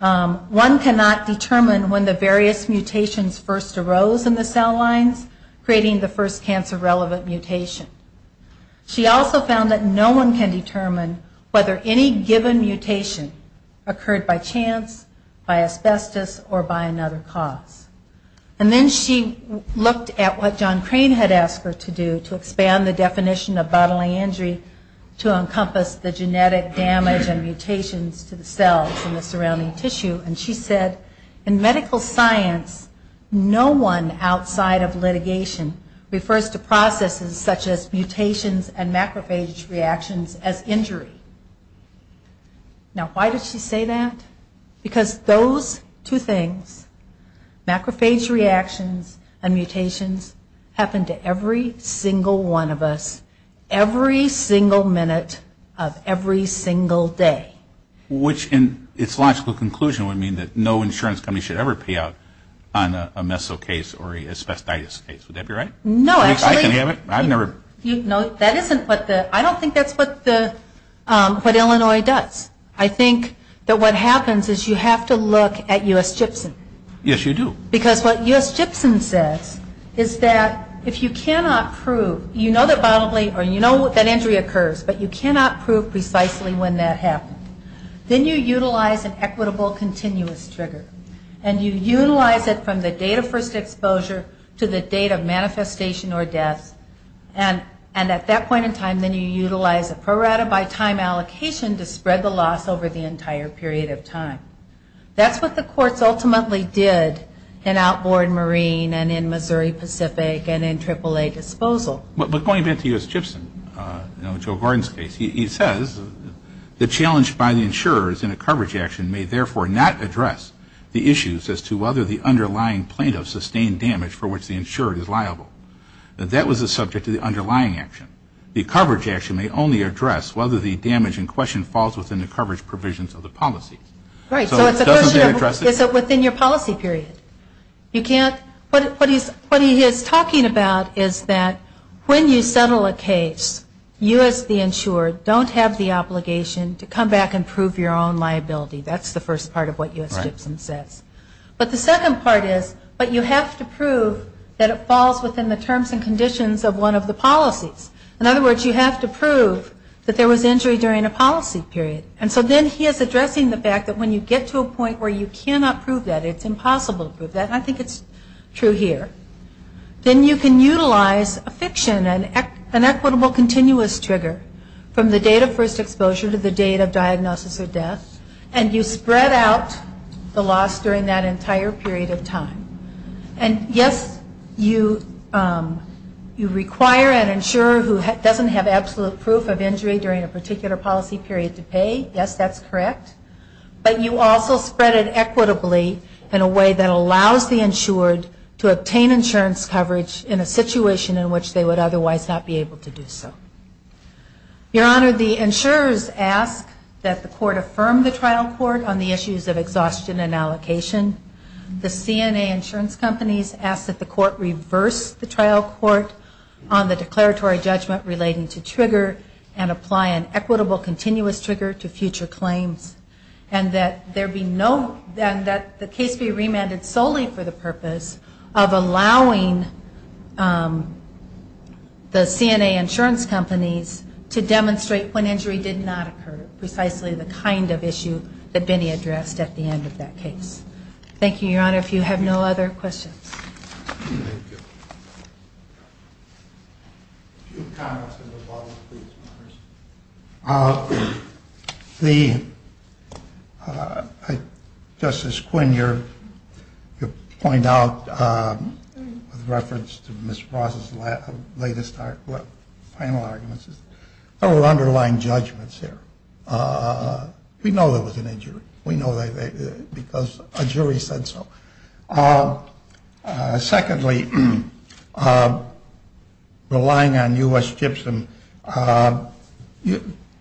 one cannot determine when the various mutations first arose in the cell lines, creating the first cancer-relevant mutation. She also found that no one can determine whether any given mutation occurred by chance, by asbestos, or by another cause. And then she looked at what John Crane had asked her to do to expand the definition of bodily injury to encompass the genetic damage and mutations to the cells and the surrounding tissue, and she said, in medical science, no one outside of litigation refers to processes such as mutations and macrophage reactions as injury. Now, why did she say that? Because those two things, macrophage reactions and mutations, happen to every single one of us, every single minute of every single day. Which in its logical conclusion would mean that no insurance company should ever pay out on a meso case or a asbestos case. Would that be right? No, actually. I don't think that's what Illinois does. I think that what happens is you have to look at U.S. Gibson. Yes, you do. Because what U.S. Gibson says is that if you cannot prove, you know that bodily, or you know that injury occurs, but you cannot prove precisely when that happened, then you utilize an equitable continuous trigger, and you utilize it from the date of first exposure to the date of manifestation or death, and at that point in time, then you utilize a pro rata by time allocation to spread the loss over the entire period of time. That's what the courts ultimately did in outboard marine and in Missouri Pacific and in AAA disposal. But going back to U.S. Gibson, Joe Gordon's case, he says the challenge by the insurers in a coverage action may therefore not address the issues as to whether the underlying plaintiff sustained damage for which the insured is liable. That was the subject of the underlying action. The coverage action may only address whether the damage in question falls within the coverage provisions of the policy. Right, so it's a question of is it within your policy period? You can't, what he is talking about is that when you settle a case, you as the insured don't have the obligation to come back and prove your own liability. That's the first part of what U.S. Gibson says. But the second part is, but you have to prove that it falls within the terms and conditions of one of the policies. In other words, you have to prove that there was injury during a policy period. And so then he is addressing the fact that when you get to a point where you cannot prove that, it's impossible to prove that, and I think it's true here, then you can utilize a fiction, an equitable continuous trigger from the date of first exposure to the date of diagnosis or death, and you spread out the loss during that entire period of time. And yes, you require an insurer who doesn't have absolute proof of injury during a particular policy period to pay. Yes, that's correct. But you also spread it equitably in a way that allows the insured to obtain insurance coverage in a situation in which they would otherwise not be able to do so. Your Honor, the insurers ask that the court affirm the trial court on the issues of exhaustion and allocation. The CNA insurance companies ask that the court reverse the trial court on the declaratory judgment relating to trigger and apply an equitable continuous trigger to future claims, and that there be no, and that the case be remanded solely for the purpose of allowing the CNA insurance companies to demonstrate when injury did not occur, precisely the kind of issue that Benny addressed at the end of that Thank you, Your Honor. If you have no other questions. Thank you. A few comments on the bottom, please. First of all, I would like to make a reference to Mr. Ross' final arguments. There were underlying judgments here. We know there was an injury. We know that because a jury said so. Secondly, relying on U.S. gypsum,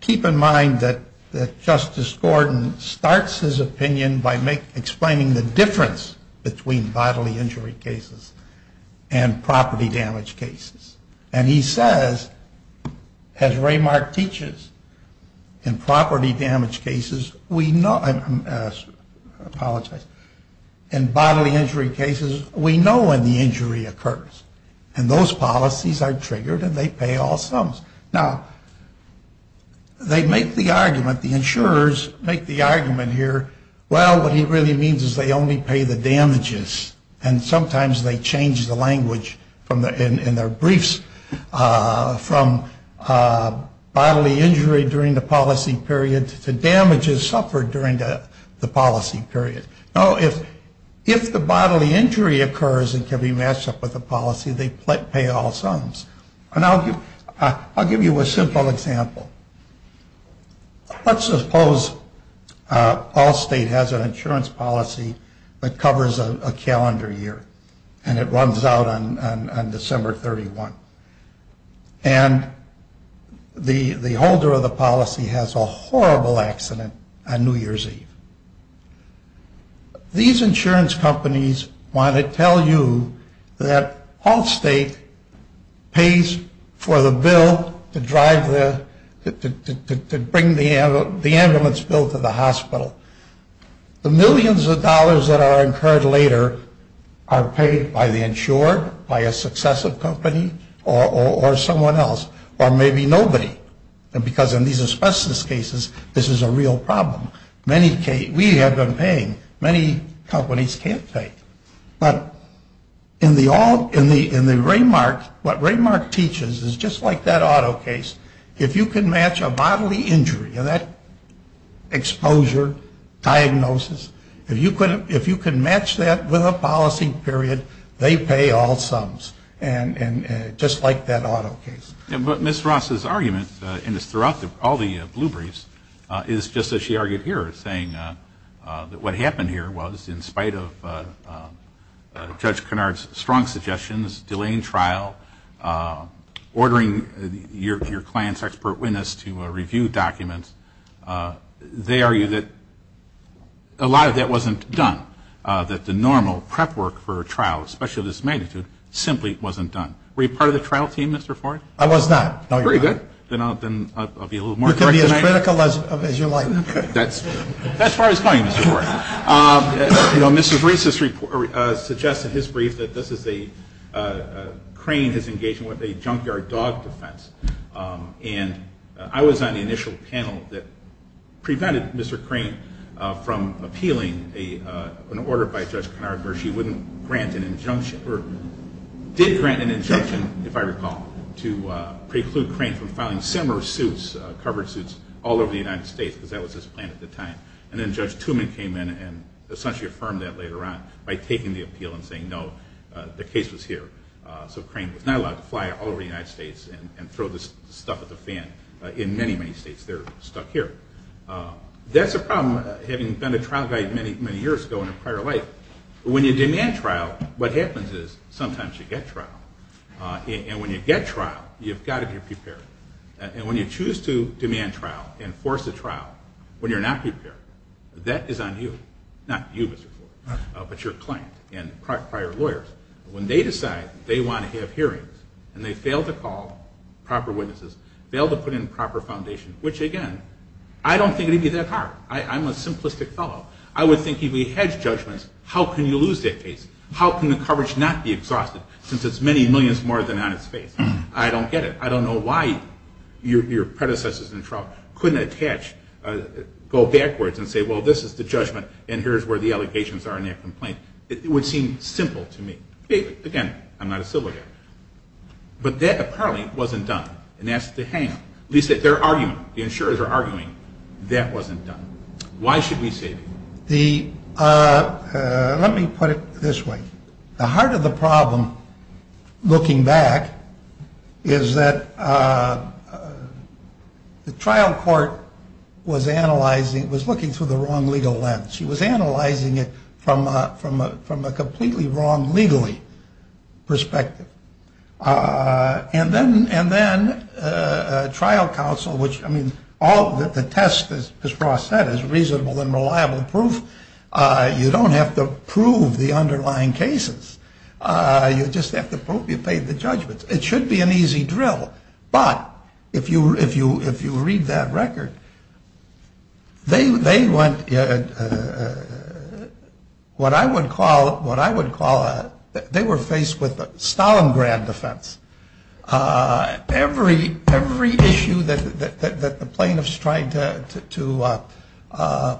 keep in mind that Justice Gordon starts his opinion by explaining the difference between bodily injury cases and property damage cases. And he says, as Raymark teaches, in property damage cases, we know, I apologize, in bodily injury cases, we know when the injury occurs. And those policies are triggered and they pay all sums. Now, they make the argument, the insurers make the argument here, well, what he really means is they only pay the damages, and sometimes they change the language in their briefs from bodily injury during the policy period to damages suffered during the policy period. Now, if the bodily injury occurs and can be matched up with a policy, they pay all sums. And I'll give you a simple example. Let's suppose all state has an insurance policy that covers a calendar year, and it runs out on December 31. And the holder of the policy has a horrible accident on New Year's Eve. These insurance companies want to tell you that all state pays for the bill to drive the, to bring the ambulance bill to the hospital. The millions of dollars that are incurred later are paid by the insured, by a successive company, or someone else, or maybe nobody. And because in these specialist cases, this is a real problem. Many, we have been paying, many companies can't pay. But in the, in the Raymark, what Raymark teaches is just like that auto case, if you can match a bodily injury, and that exposure, diagnosis, if you could, if you could match that with a policy period, they pay all sums. And just like that auto case. But Ms. Ross' argument, and it's throughout all the blue briefs, is just as she argued here, saying that what happened here was, in spite of Judge Kennard's strong suggestions, delaying trial, ordering your client's expert witness to review documents, they argue that, you know, a lot of that wasn't done. That the normal prep work for a trial, especially of this magnitude, simply wasn't done. Were you part of the trial team, Mr. Ford? I was not. Very good. Then I'll be a little more correct. You can be as critical as you like. That's as far as I'm going, Mr. Ford. You know, Mr. Reese's report suggests in his brief that this is a, Crane is engaging with a junkyard dog defense. And I was on the initial panel that prevented Mr. Crane from appealing an order by Judge Kennard where she wouldn't grant an injunction, or did grant an injunction, if I recall, to preclude Crane from filing similar suits, covered suits, all over the United States, because that was his plan at the time. And then Judge Tooman came in and essentially affirmed that later on by taking the appeal and saying, no, the case was here. So Crane was not allowed to fly all over the United States and throw this stuff at the fan in many, many states. They're stuck here. That's a problem, having been a trial guy many, many years ago in a prior life, when you demand trial, what happens is sometimes you get trial. And when you get trial, you've got to be prepared. And when you choose to demand trial and force a trial when you're not prepared, that is on you. Not you, Mr. Ford, but your client and prior lawyers. When they decide they want to have hearings and they fail to call proper witnesses, fail to put in proper foundation, which, again, I don't think it would be that hard. I'm a simplistic fellow. I would think if you hedge judgments, how can you lose that case? How can the coverage not be exhausted since it's many millions more than on its face? I don't get it. I don't know why your predecessors in trial couldn't go backwards and say, well, this is the judgment and here's where the allegations are in that complaint. It would seem simple to me. Again, I'm not a civil lawyer. But that apparently wasn't done. And that's the hangup. Lisa, their argument, the insurers are arguing that wasn't done. Why should we save it? Let me put it this way. The heart of the problem, looking back, is that the trial court was analyzing, was looking through the wrong legal lens. She was analyzing it from a completely wrong legally perspective. And then trial counsel, which, I mean, the test, as Ross said, is reasonable and reliable proof. You don't have to prove the underlying cases. You just have to prove you paid the judgments. It should be an easy drill. But if you read that record, they went what I would call, they were faced with Stalingrad defense. Every issue that the plaintiffs tried to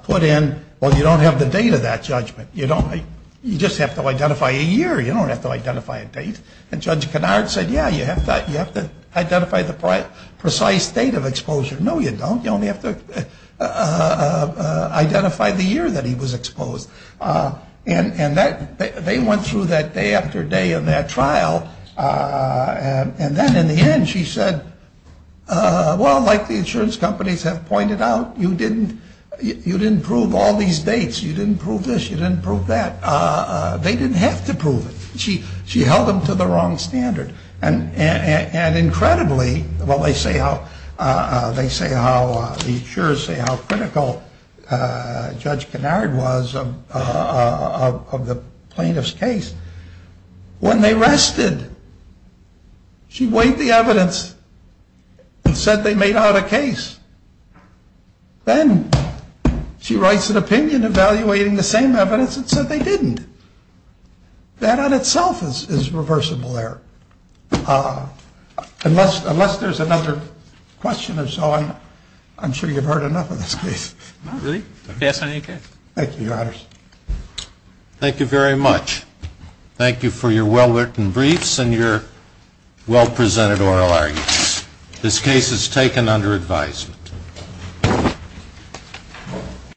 put in, well, you don't have the date of that judgment. You just have to identify a year. You don't have to identify a date. And Judge Kennard said, yeah, you have to identify the precise date of exposure. No, you don't. You only have to identify the year that he was exposed. And they went through that day after day in that trial. And then in the end, she said, well, like the insurance companies have pointed out, you didn't prove all these dates. You didn't prove this. You didn't prove that. They didn't have to prove it. She held them to the wrong standard. And incredibly, well, they say how the insurers say how critical Judge Kennard was of the plaintiff's case. When they rested, she weighed the evidence and said they made out a case. Then she writes an opinion evaluating the same evidence and said they didn't. That in itself is reversible error. Unless there's another question or so, I'm sure you've heard enough of this case. Thank you, Your Honors. Thank you very much. Thank you for your well-written briefs and your well-presented oral arguments. This case is taken under advisement.